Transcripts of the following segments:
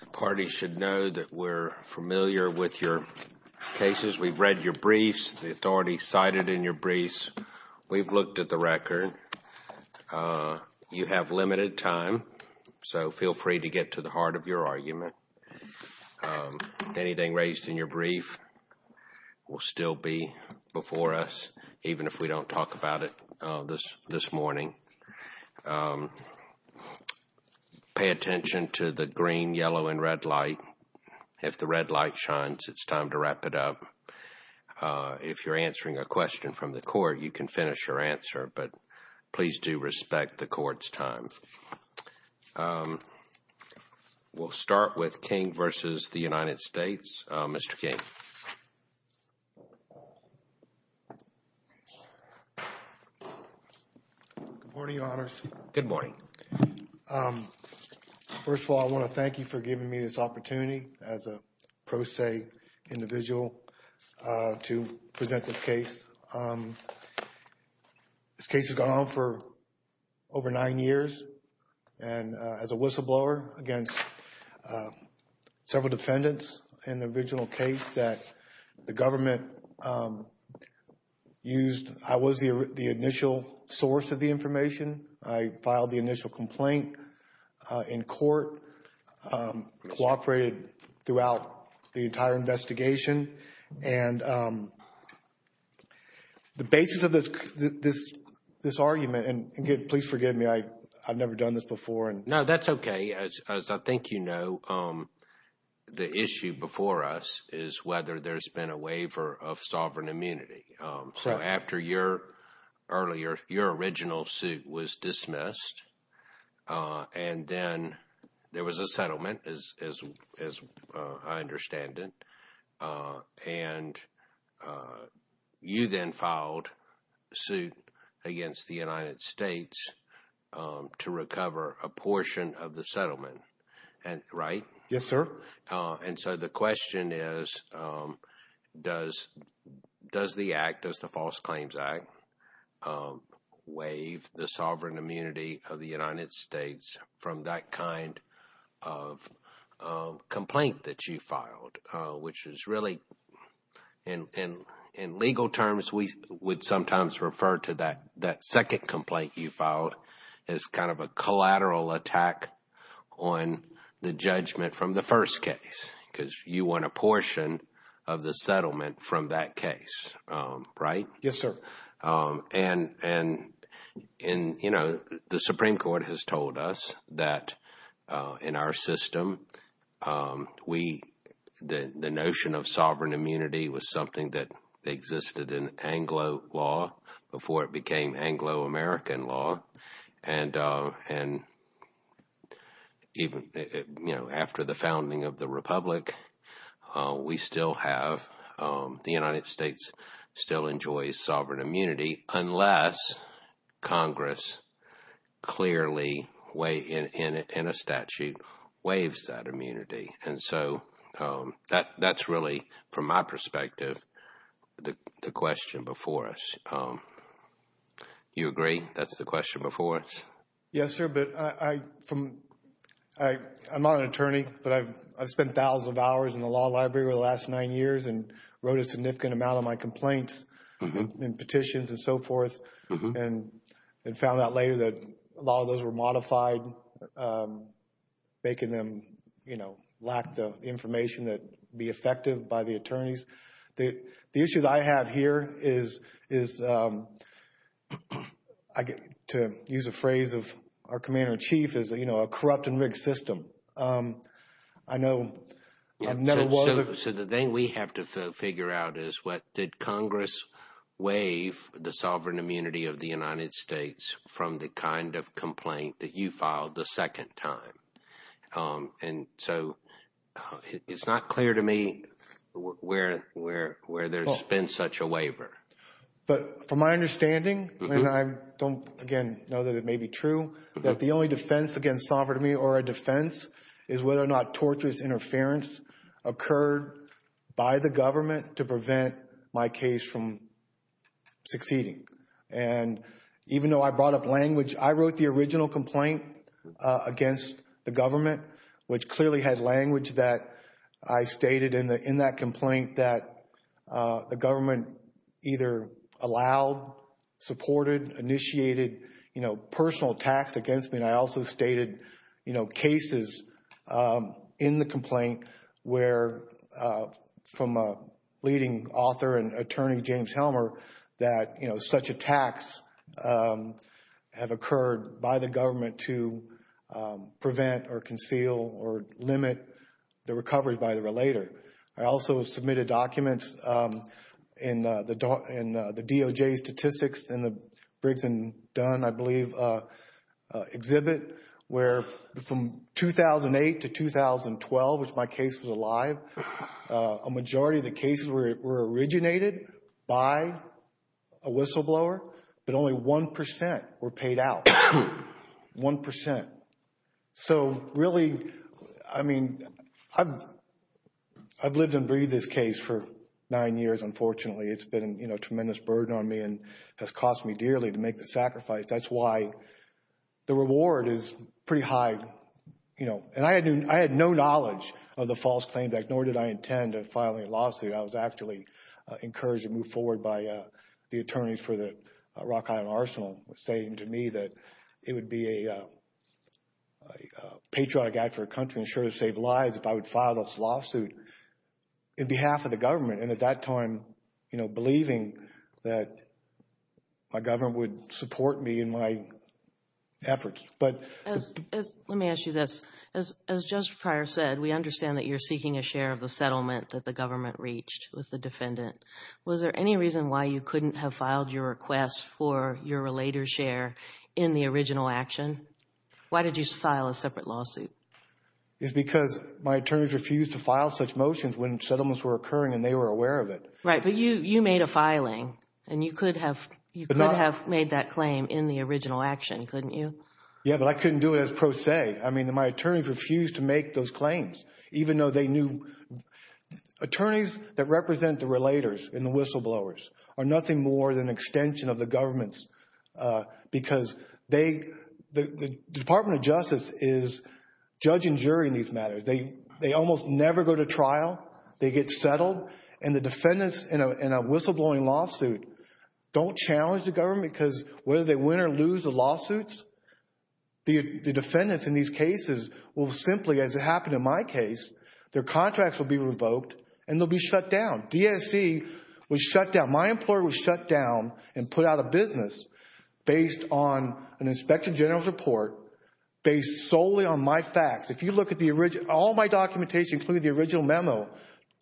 The party should know that we're familiar with your cases. We've read your briefs, the authorities cited in your briefs. We've looked at the record. You have limited time, so feel free to get to the heart of your argument. Anything raised in your brief will still be before us, even if we don't talk about it this morning. Pay attention to the green, yellow, and red light. If the red light shines, it's time to wrap it up. If you're answering a question from the court, you can finish your answer, but please do respect the court's time. We'll start with King v. United States. Mr. King. Good morning, Your Honors. Good morning. First of all, I want to thank you for giving me this opportunity as a pro se individual to present this case. This case has gone on for over nine years, and as a whistleblower against several defendants in the original case that the government used. I was the initial source of the information. I filed the initial complaint in court, cooperated throughout the entire investigation. And the basis of this argument, and please forgive me, I've never done this before. No, that's okay. As I think you know, the issue before us is whether there's been a waiver of sovereign immunity. So after your original suit was dismissed, and then there was a settlement, as I understand it, and you then filed suit against the United States to recover a portion of the settlement, right? Yes, sir. And so the question is, does the act, does the False Claims Act, waive the sovereign immunity of the United States from that kind of complaint that you filed, which is really, in legal terms, we would sometimes refer to that second complaint you filed as kind of a collateral attack on the judgment from the first case, because you won a portion of the settlement from that case, right? Yes, sir. And, you know, the Supreme Court has told us that in our system, the notion of sovereign immunity was something that existed in Anglo law before it became Anglo-American law. And even after the founding of the Republic, we still have, the United States still enjoys sovereign immunity unless Congress clearly in a statute waives that immunity. And so that's really, from my perspective, the question before us. Do you agree that's the question before us? Yes, sir, but I'm not an attorney, but I've spent thousands of hours in the law library over the last nine years and wrote a significant amount of my complaints and petitions and so forth and found out later that a lot of those were modified, making them lack the information that would be effective by the attorneys. The issue that I have here is, to use a phrase of our Commander-in-Chief, is a corrupt and rigged system. So the thing we have to figure out is did Congress waive the sovereign immunity of the United States from the kind of complaint that you filed the second time? And so it's not clear to me where there's been such a waiver. But from my understanding, and I don't, again, know that it may be true, that the only defense against sovereign immunity or a defense is whether or not torturous interference occurred by the government to prevent my case from succeeding. And even though I brought up language, I wrote the original complaint against the government, which clearly had language that I stated in that complaint that the government either allowed, supported, initiated personal attacks against me, and I also stated cases in the complaint where, from a leading author and attorney, James Helmer, that such attacks have occurred by the government to prevent or conceal or limit the recovery by the relator. I also submitted documents in the DOJ statistics in the Briggs & Dunn, I believe, exhibit where from 2008 to 2012, which my case was alive, a majority of the cases were originated by a whistleblower, but only 1% were paid out, 1%. So really, I mean, I've lived and breathed this case for nine years, unfortunately. It's been a tremendous burden on me and has cost me dearly to make the sacrifice. That's why the reward is pretty high. And I had no knowledge of the false claim, nor did I intend on filing a lawsuit. I was actually encouraged to move forward by the attorneys for the Rock Island Arsenal who were saying to me that it would be a patriotic act for a country and sure to save lives if I would file this lawsuit in behalf of the government and at that time believing that my government would support me in my efforts. Let me ask you this. As Judge Pryor said, we understand that you're seeking a share of the settlement that the government reached with the defendant. Was there any reason why you couldn't have filed your request for your relator's share in the original action? Why did you file a separate lawsuit? It's because my attorneys refused to file such motions when settlements were occurring and they were aware of it. Right, but you made a filing, and you could have made that claim in the original action, couldn't you? Yeah, but I couldn't do it as pro se. I mean, my attorneys refused to make those claims, even though they knew attorneys that represent the relators and the whistleblowers are nothing more than an extension of the government's because the Department of Justice is judge and jury in these matters. They almost never go to trial. They get settled, and the defendants in a whistleblowing lawsuit don't challenge the government because whether they win or lose the lawsuits, the defendants in these cases will simply, as it happened in my case, their contracts will be revoked and they'll be shut down. DSC was shut down. My employer was shut down and put out of business based on an Inspector General's report based solely on my facts. If you look at all my documentation, including the original memo,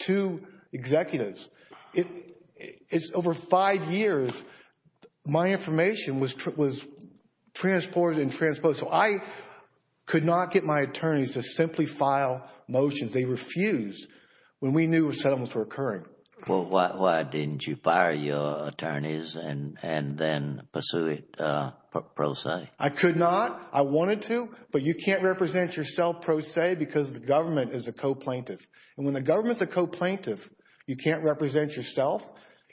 to executives, it's over five years. My information was transported and transposed. So I could not get my attorneys to simply file motions. They refused when we knew settlements were occurring. Well, why didn't you fire your attorneys and then pursue it pro se? I could not. I wanted to, but you can't represent yourself pro se because the government is a co-plaintiff. And when the government's a co-plaintiff, you can't represent yourself,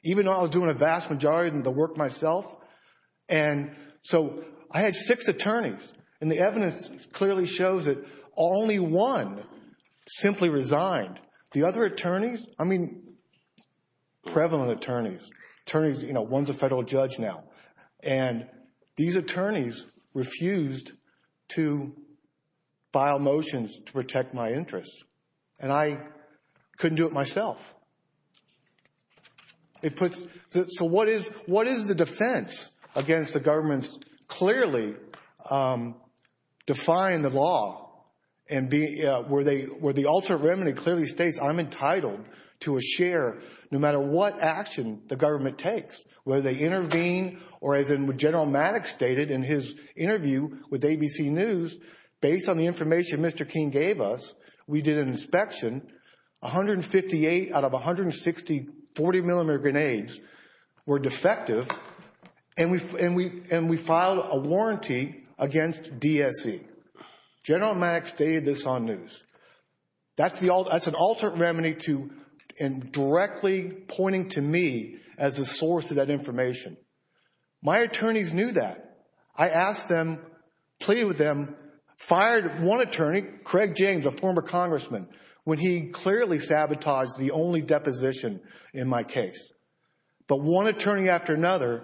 even though I was doing a vast majority of the work myself. And so I had six attorneys, and the evidence clearly shows that only one simply resigned. The other attorneys, I mean prevalent attorneys, attorneys, you know, one's a federal judge now, and these attorneys refused to file motions to protect my interests. And I couldn't do it myself. So what is the defense against the government's clearly defying the law where the alternate remedy clearly states I'm entitled to a share no matter what action the government takes, whether they intervene or, as General Maddox stated in his interview with ABC News, based on the information Mr. King gave us, we did an inspection, 158 out of 160 40-millimeter grenades were defective, and we filed a warranty against DSE. General Maddox stated this on news. That's an alternate remedy to directly pointing to me as the source of that information. My attorneys knew that. I asked them, pleaded with them, fired one attorney, Craig James, a former congressman, when he clearly sabotaged the only deposition in my case. But one attorney after another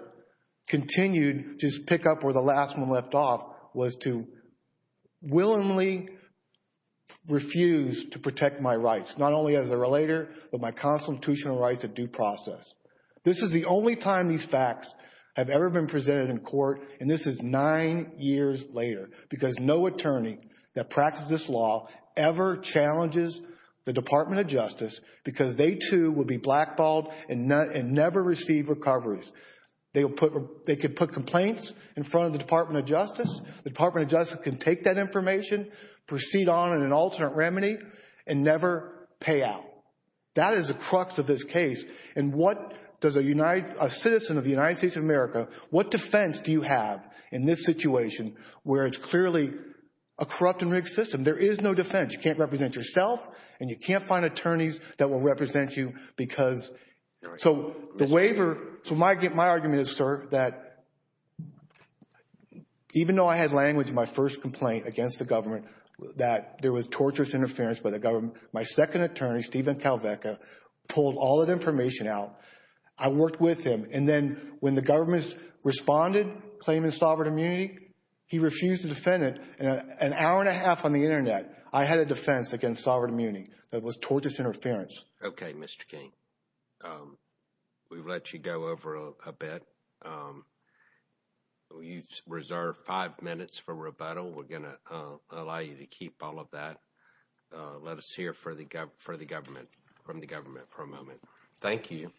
continued to pick up where the last one left off was to willingly refuse to protect my rights, not only as a relator but my constitutional rights at due process. This is the only time these facts have ever been presented in court, and this is nine years later because no attorney that practices this law ever challenges the Department of Justice because they, too, will be blackballed and never receive recoveries. They could put complaints in front of the Department of Justice. The Department of Justice can take that information, proceed on in an alternate remedy, and never pay out. That is the crux of this case. And what does a citizen of the United States of America, what defense do you have in this situation where it's clearly a corrupt and rigged system? There is no defense. You can't represent yourself, and you can't find attorneys that will represent you because... So the waiver... So my argument is, sir, that even though I had language in my first complaint against the government that there was torturous interference by the government, my second attorney, Stephen Kalveka, pulled all that information out. I worked with him, and then when the government responded, claiming sovereign immunity, he refused to defend it. In an hour and a half on the Internet, I had a defense against sovereign immunity that was torturous interference. Okay, Mr. King. We've let you go over a bit. You reserve five minutes for rebuttal. We're going to allow you to keep all of that. Let us hear from the government for a moment. Thank you.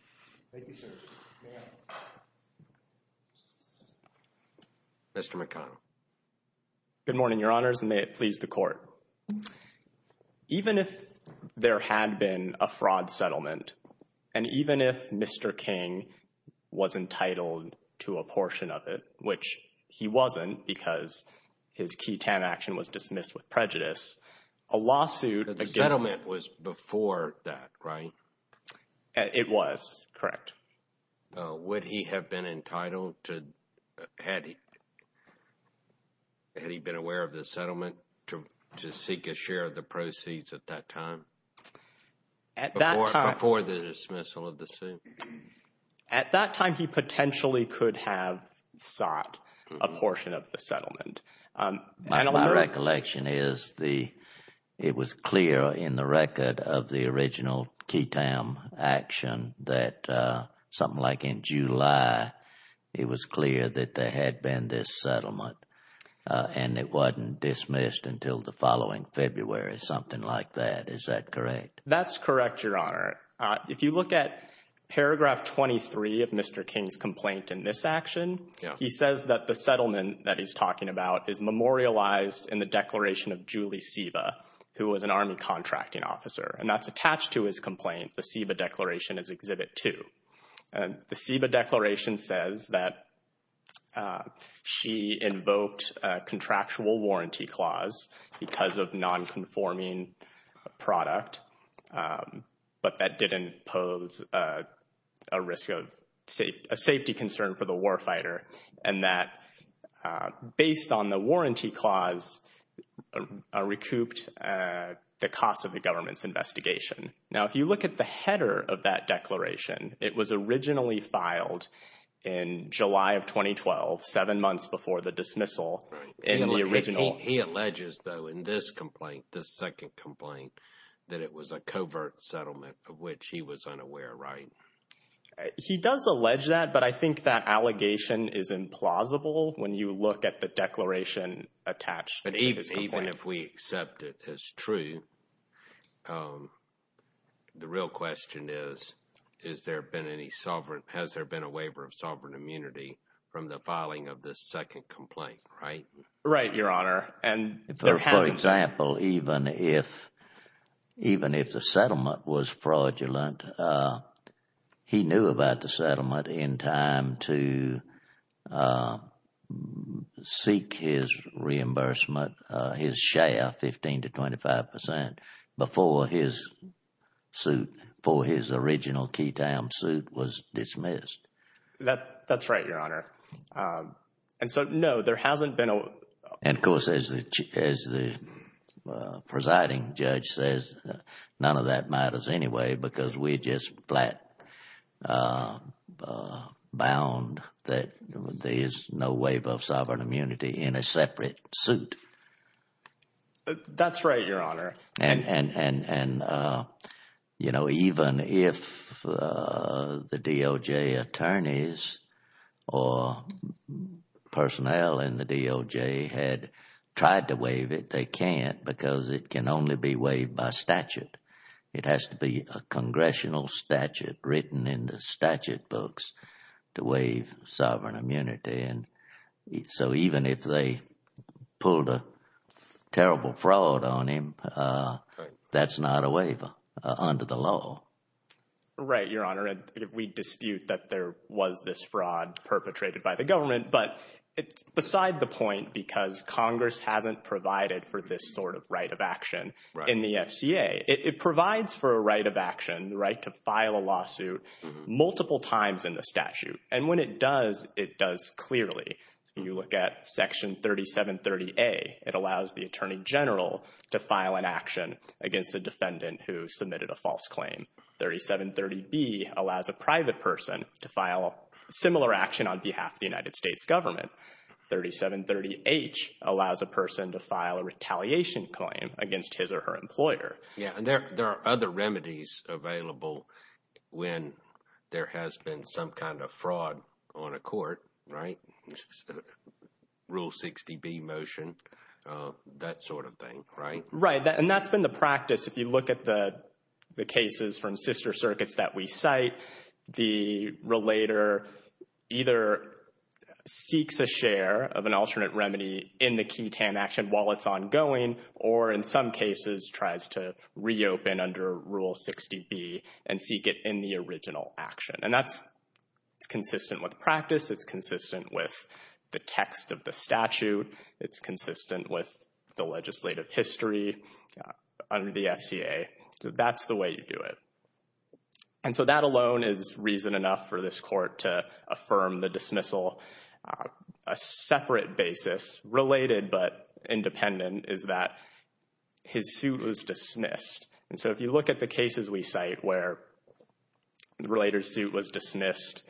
Thank you, sir. Mr. McConnell. Good morning, Your Honors, and may it please the Court. Even if there had been a fraud settlement, and even if Mr. King was entitled to a portion of it, which he wasn't because his key TAN action was dismissed with prejudice, a lawsuit against... The settlement was before that, right? It was, correct. Would he have been entitled to... Had he been aware of the settlement to seek a share of the proceeds at that time? Before the dismissal of the suit? At that time, he potentially could have sought a portion of the settlement. My recollection is it was clear in the record of the original key TAN action that something like in July, it was clear that there had been this settlement and it wasn't dismissed until the following February, something like that. Is that correct? That's correct, Your Honor. If you look at paragraph 23 of Mr. King's complaint in this action, he says that the settlement that he's talking about is memorialized in the declaration of Julie Siva, who was an Army contracting officer. And that's attached to his complaint, the Siva Declaration, as Exhibit 2. The Siva Declaration says that she invoked a contractual warranty clause because of nonconforming product, but that didn't pose a safety concern for the warfighter, and that based on the warranty clause, recouped the cost of the government's investigation. Now, if you look at the header of that declaration, it was originally filed in July of 2012, seven months before the dismissal in the original. He alleges, though, in this complaint, this second complaint, that it was a covert settlement of which he was unaware, right? He does allege that, but I think that allegation is implausible when you look at the declaration attached to his complaint. But even if we accept it as true, the real question is, has there been a waiver of sovereign immunity from the filing of this second complaint, right? Right, Your Honor. For example, even if the settlement was fraudulent, he knew about the settlement in time to seek his reimbursement, his share, 15 to 25 percent, before his suit for his original Keytown suit was dismissed. That's right, Your Honor. And so, no, there hasn't been a... And of course, as the presiding judge says, none of that matters anyway because we're just flat bound that there is no waiver of sovereign immunity in a separate suit. That's right, Your Honor. And, you know, even if the DOJ attorneys or personnel in the DOJ had tried to waive it, they can't because it can only be waived by statute. It has to be a congressional statute written in the statute books to waive sovereign immunity. And so even if they pulled a terrible fraud on him, that's not a waiver under the law. Right, Your Honor. We dispute that there was this fraud perpetrated by the government, but it's beside the point because Congress hasn't provided for this sort of right of action in the FCA. It provides for a right of action, the right to file a lawsuit, multiple times in the statute. And when it does, it does clearly. When you look at Section 3730A, it allows the attorney general to file an action against a defendant who submitted a false claim. 3730B allows a private person to file similar action on behalf of the United States government. 3730H allows a person to file a retaliation claim against his or her employer. Yeah, and there are other remedies available when there has been some kind of fraud on a court, right? Rule 60B motion, that sort of thing, right? Right, and that's been the practice. If you look at the cases from sister circuits that we cite, the relator either seeks a share of an alternate remedy in the key TAM action while it's ongoing, or in some cases tries to reopen under Rule 60B and seek it in the original action. And that's consistent with practice. It's consistent with the text of the statute. It's consistent with the legislative history under the FCA. So that's the way you do it. And so that alone is reason enough for this court to affirm the dismissal. A separate basis, related but independent, is that his suit was dismissed. And so if you look at the cases we cite where the relator's suit was dismissed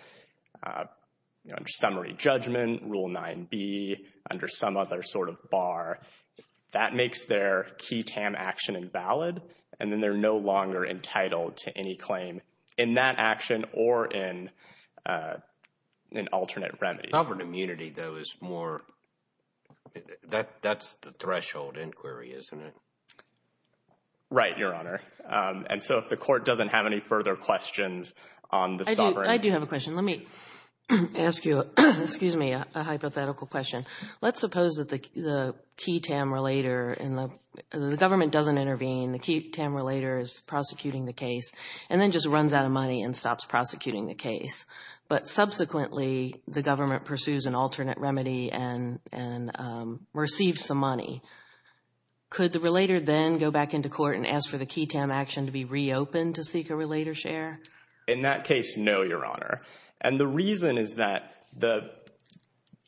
under summary judgment, Rule 9B, under some other sort of bar, that makes their key TAM action invalid, and then they're no longer entitled to any claim in that action or in an alternate remedy. Sovereign immunity, though, is more... That's the threshold inquiry, isn't it? Right, Your Honor. And so if the court doesn't have any further questions on the sovereign... I do have a question. Let me ask you a hypothetical question. Let's suppose that the key TAM relator, the government doesn't intervene, the key TAM relator is prosecuting the case and then just runs out of money and stops prosecuting the case. But subsequently, the government pursues an alternate remedy and receives some money. Could the relator then go back into court and ask for the key TAM action to be reopened to seek a relator's share? In that case, no, Your Honor. And the reason is that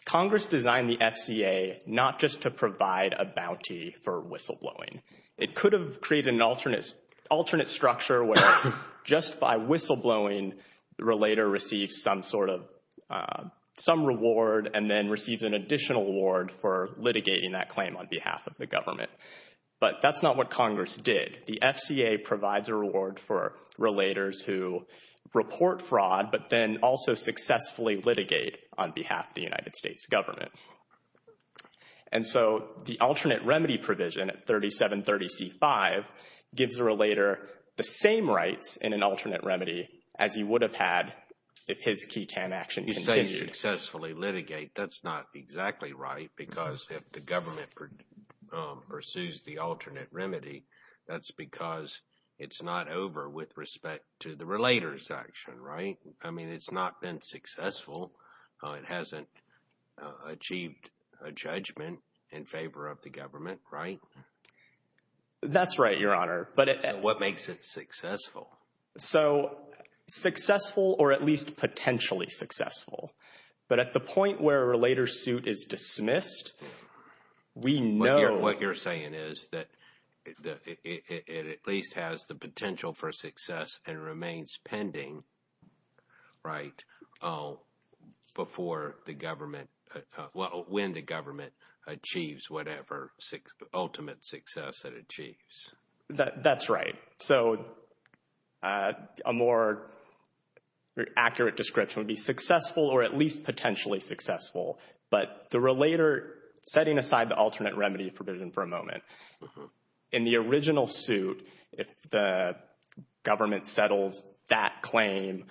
Congress designed the FCA not just to provide a bounty for whistleblowing. It could have created an alternate structure where just by whistleblowing, the relator receives some sort of reward and then receives an additional reward for litigating that claim on behalf of the government. But that's not what Congress did. The FCA provides a reward for relators who report fraud but then also successfully litigate on behalf of the United States government. And so the alternate remedy provision at 3730C5 gives the relator the same rights in an alternate remedy as he would have had if his key TAM action continued. You say successfully litigate. That's not exactly right because if the government pursues the alternate remedy, that's because it's not over with respect to the relator's action, right? I mean, it's not been successful. It hasn't achieved a judgment in favor of the government, right? That's right, Your Honor. What makes it successful? So successful or at least potentially successful. But at the point where a relator suit is dismissed, we know— What you're saying is that it at least has the potential for success and remains pending, right? Before the government— Well, when the government achieves whatever ultimate success it achieves. That's right. So a more accurate description would be successful or at least potentially successful. But the relator—setting aside the alternate remedy provision for a moment, in the original suit, if the government settles that claim,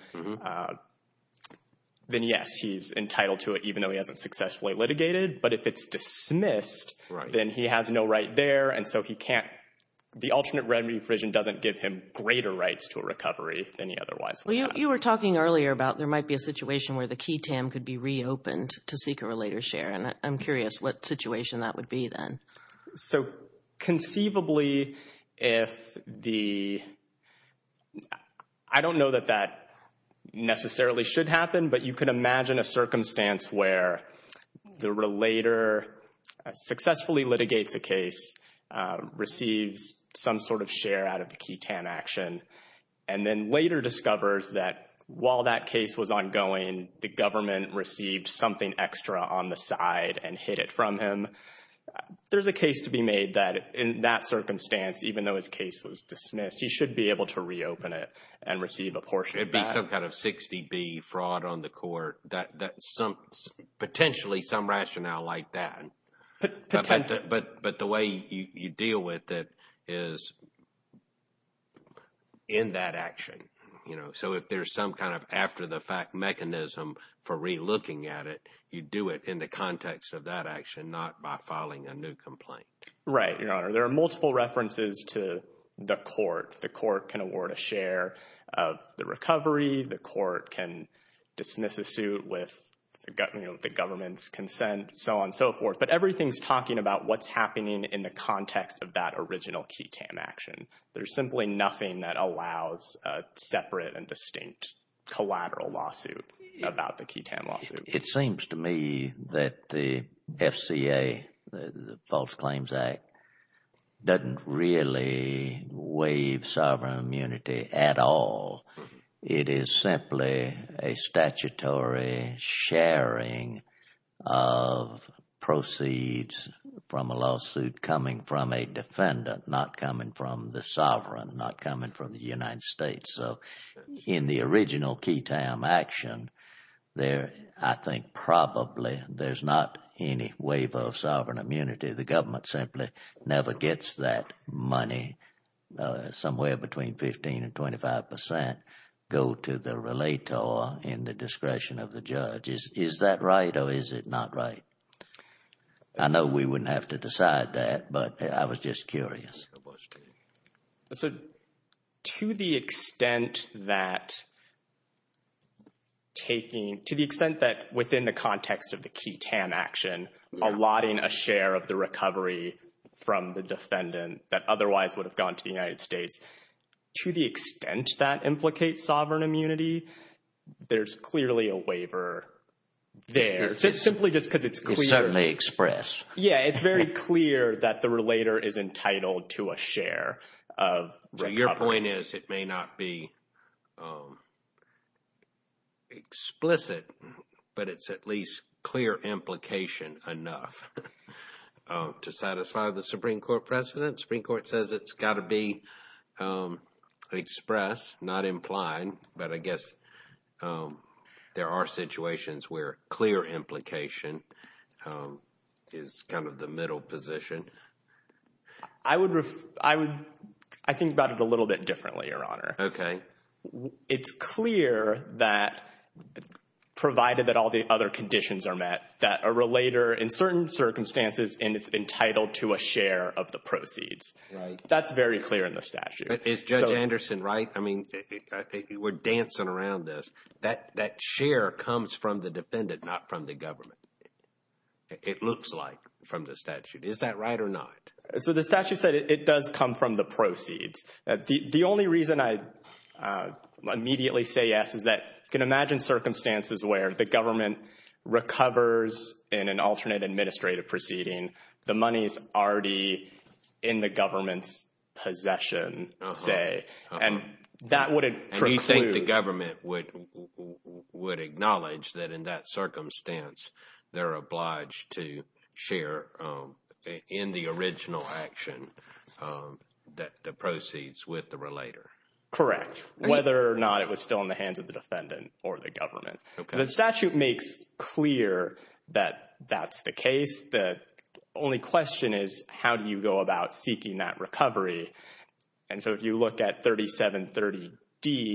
then, yes, he's entitled to it even though he hasn't successfully litigated. But if it's dismissed, then he has no right there. And so he can't—the alternate remedy provision doesn't give him greater rights to a recovery than he otherwise would have. You were talking earlier about there might be a situation where the key TAM could be reopened to seek a relator's share. And I'm curious what situation that would be then. So conceivably, if the—I don't know that that necessarily should happen, but you can imagine a circumstance where the relator successfully litigates a case, receives some sort of share out of the key TAM action, and then later discovers that while that case was ongoing, the government received something extra on the side and hid it from him. There's a case to be made that in that circumstance, even though his case was dismissed, he should be able to reopen it and receive a portion back. It'd be some kind of 60B fraud on the court, potentially some rationale like that. Potentially. But the way you deal with it is in that action. So if there's some kind of after-the-fact mechanism for relooking at it, you do it in the context of that action, not by filing a new complaint. Right, Your Honor. There are multiple references to the court. The court can award a share of the recovery. The court can dismiss a suit with the government's consent, so on and so forth. But everything's talking about what's happening in the context of that original key TAM action. There's simply nothing that allows a separate and distinct collateral lawsuit about the key TAM lawsuit. It seems to me that the FCA, the False Claims Act, doesn't really waive sovereign immunity at all. It is simply a statutory sharing of proceeds from a lawsuit coming from a defendant, not coming from the sovereign, not coming from the United States. So in the original key TAM action, I think probably there's not any waiver of sovereign immunity. The government simply never gets that money. Somewhere between 15 and 25 percent go to the relator in the discretion of the judge. Is that right or is it not right? I know we wouldn't have to decide that, but I was just curious. So to the extent that taking—to the extent that within the context of the key TAM action, allotting a share of the recovery from the defendant that otherwise would have gone to the United States, to the extent that implicates sovereign immunity, there's clearly a waiver there. It's simply just because it's clear. You certainly express. Yeah, it's very clear that the relator is entitled to a share of recovery. Your point is it may not be explicit, but it's at least clear implication enough to satisfy the Supreme Court precedent. Supreme Court says it's got to be expressed, not implied, but I guess there are situations where clear implication is kind of the middle position. I would—I think about it a little bit differently, Your Honor. Okay. It's clear that provided that all the other conditions are met, that a relator in certain circumstances is entitled to a share of the proceeds. Right. That's very clear in the statute. But is Judge Anderson right? I mean, we're dancing around this. That share comes from the defendant, not from the government. It looks like from the statute. Is that right or not? So the statute said it does come from the proceeds. The only reason I immediately say yes is that you can imagine circumstances where the government recovers in an alternate administrative proceeding, the money is already in the government's possession, say, and that would include— Correct. Whether or not it was still in the hands of the defendant or the government. Okay. The statute makes clear that that's the case. The only question is how do you go about seeking that recovery? And so if you look at 3730D,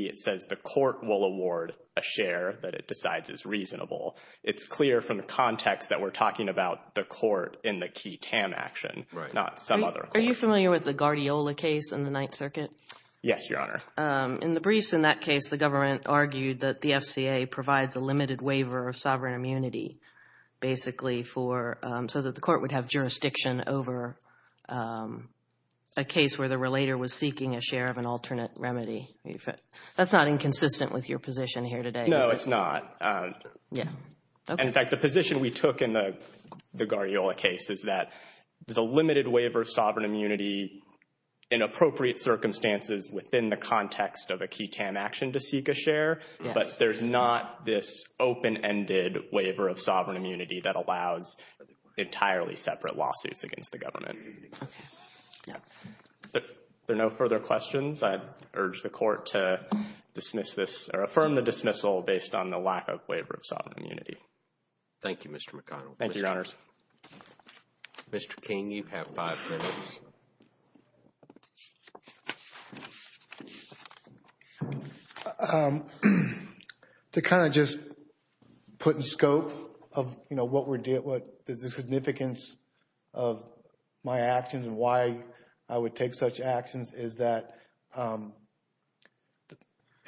it says the court will award a share that it decides is reasonable. It's clear from the context that we're talking about the court in the key TAM action, not some other court. Are you familiar with the Guardiola case in the Ninth Circuit? Yes, Your Honor. In the briefs in that case, the government argued that the FCA provides a limited waiver of sovereign immunity, basically, so that the court would have jurisdiction over a case where the relator was seeking a share of an alternate remedy. That's not inconsistent with your position here today. No, it's not. Yeah. And, in fact, the position we took in the Guardiola case is that there's a limited waiver of sovereign immunity in appropriate circumstances within the context of a key TAM action to seek a share, but there's not this open-ended waiver of sovereign immunity that allows entirely separate lawsuits against the government. If there are no further questions, I'd urge the court to dismiss this or affirm the dismissal based on the lack of waiver of sovereign immunity. Thank you, Mr. McConnell. Thank you, Your Honors. Mr. King, you have five minutes. Thank you, Your Honors. To kind of just put in scope of, you know, what the significance of my actions and why I would take such actions is that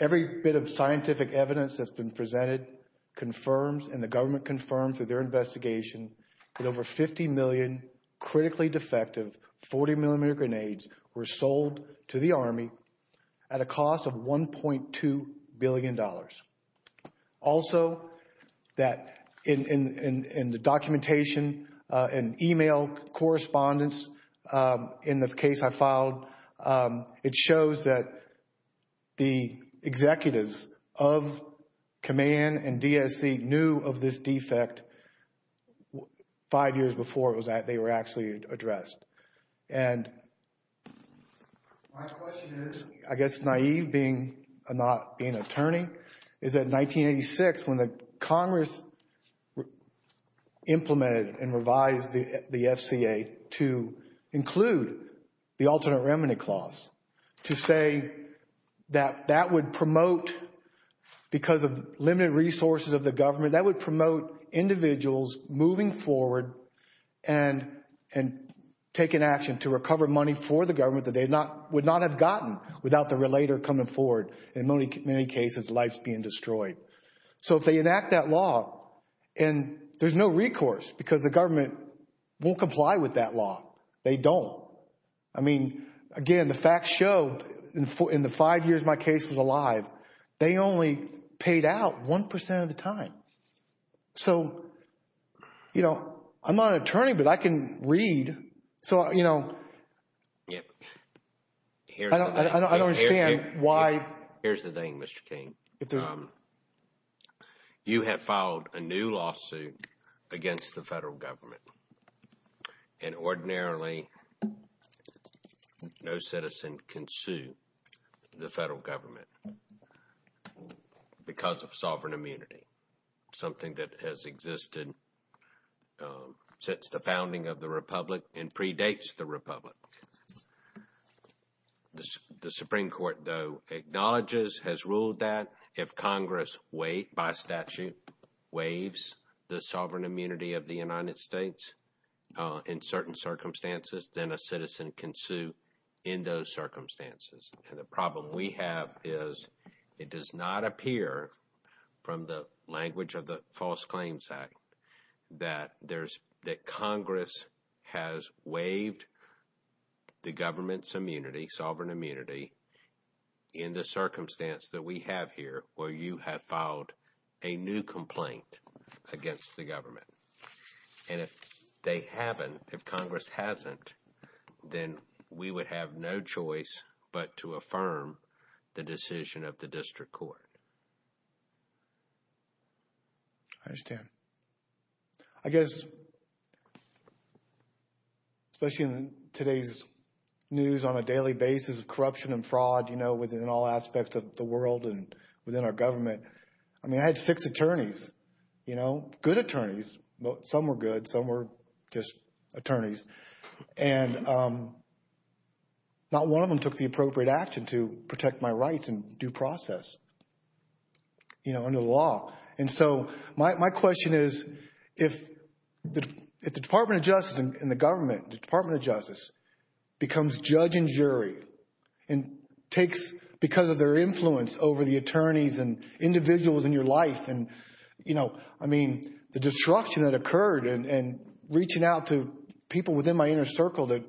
every bit of scientific evidence that's been presented confirms and the government confirmed through their investigation that over 50 million critically defective 40-millimeter grenades were sold to the Army at a cost of $1.2 billion. Also, that in the documentation and email correspondence in the case I filed, it shows that the executives of command and DSC knew of this defect five years before they were actually addressed. And my question is, I guess naïve being an attorney, is that in 1986 when the Congress implemented and revised the FCA to include the alternate remedy clause, to say that that would promote, because of limited resources of the government, that would promote individuals moving forward and taking action to recover money for the government that they would not have gotten without the relator coming forward, in many cases, lives being destroyed. So if they enact that law, and there's no recourse because the government won't comply with that law. They don't. I mean, again, the facts show in the five years my case was alive, they only paid out 1% of the time. So, you know, I'm not an attorney, but I can read. So, you know, I don't understand why. Here's the thing, Mr. King. You have filed a new lawsuit against the federal government. And ordinarily, no citizen can sue the federal government because of sovereign immunity. Something that has existed since the founding of the Republic and predates the Republic. The Supreme Court, though, acknowledges, has ruled that if Congress wait, by statute, waives the sovereign immunity of the United States in certain circumstances, then a citizen can sue in those circumstances. And the problem we have is it does not appear from the language of the False Claims Act that Congress has waived the government's immunity, sovereign immunity, in the circumstance that we have here, where you have filed a new complaint against the government. And if they haven't, if Congress hasn't, then we would have no choice but to affirm the decision of the district court. I understand. I guess, especially in today's news on a daily basis, corruption and fraud, you know, within all aspects of the world and within our government. I mean, I had six attorneys, you know, good attorneys. Some were good, some were just attorneys. And not one of them took the appropriate action to protect my rights in due process, you know, under the law. And so my question is, if the Department of Justice and the government, the Department of Justice, becomes judge and jury and takes, because of their influence over the attorneys and individuals in your life and, you know, I mean, the destruction that occurred and reaching out to people within my inner circle that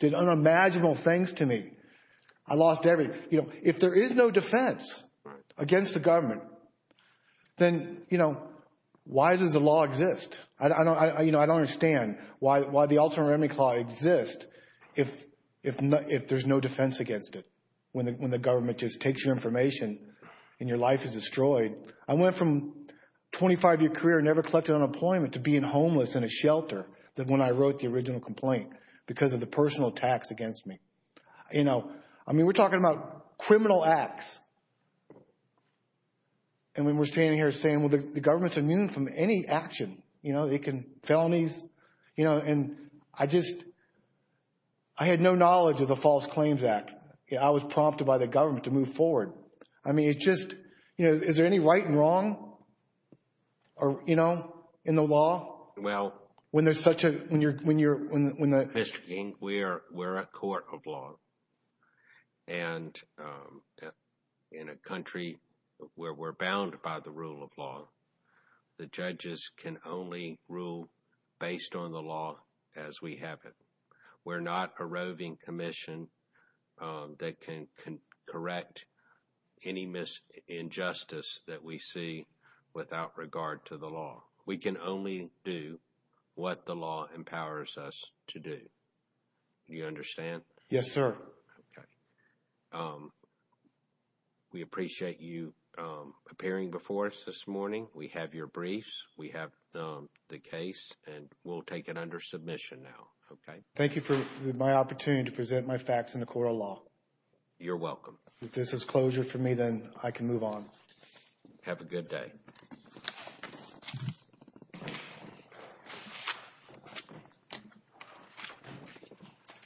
did unimaginable things to me. I lost everything. You know, if there is no defense against the government, then, you know, why does the law exist? You know, I don't understand why the Ultimate Remedy Clause exists if there's no defense against it, when the government just takes your information and your life is destroyed. I went from 25-year career, never collected unemployment, to being homeless in a shelter when I wrote the original complaint because of the personal attacks against me. You know, I mean, we're talking about criminal acts. And when we're standing here saying, well, the government's immune from any action, you know, they can, felonies, you know, and I just, I had no knowledge of the False Claims Act. I was prompted by the government to move forward. I mean, it's just, you know, is there any right and wrong, you know, in the law? Well, Mr. King, we're a court of law. And in a country where we're bound by the rule of law, the judges can only rule based on the law as we have it. We're not a roving commission that can correct any injustice that we see without regard to the law. We can only do what the law empowers us to do. Do you understand? Yes, sir. Okay. We appreciate you appearing before us this morning. We have your briefs. We have the case, and we'll take it under submission now. Okay. Thank you for my opportunity to present my facts in the court of law. You're welcome. If this is closure for me, then I can move on. Have a good day.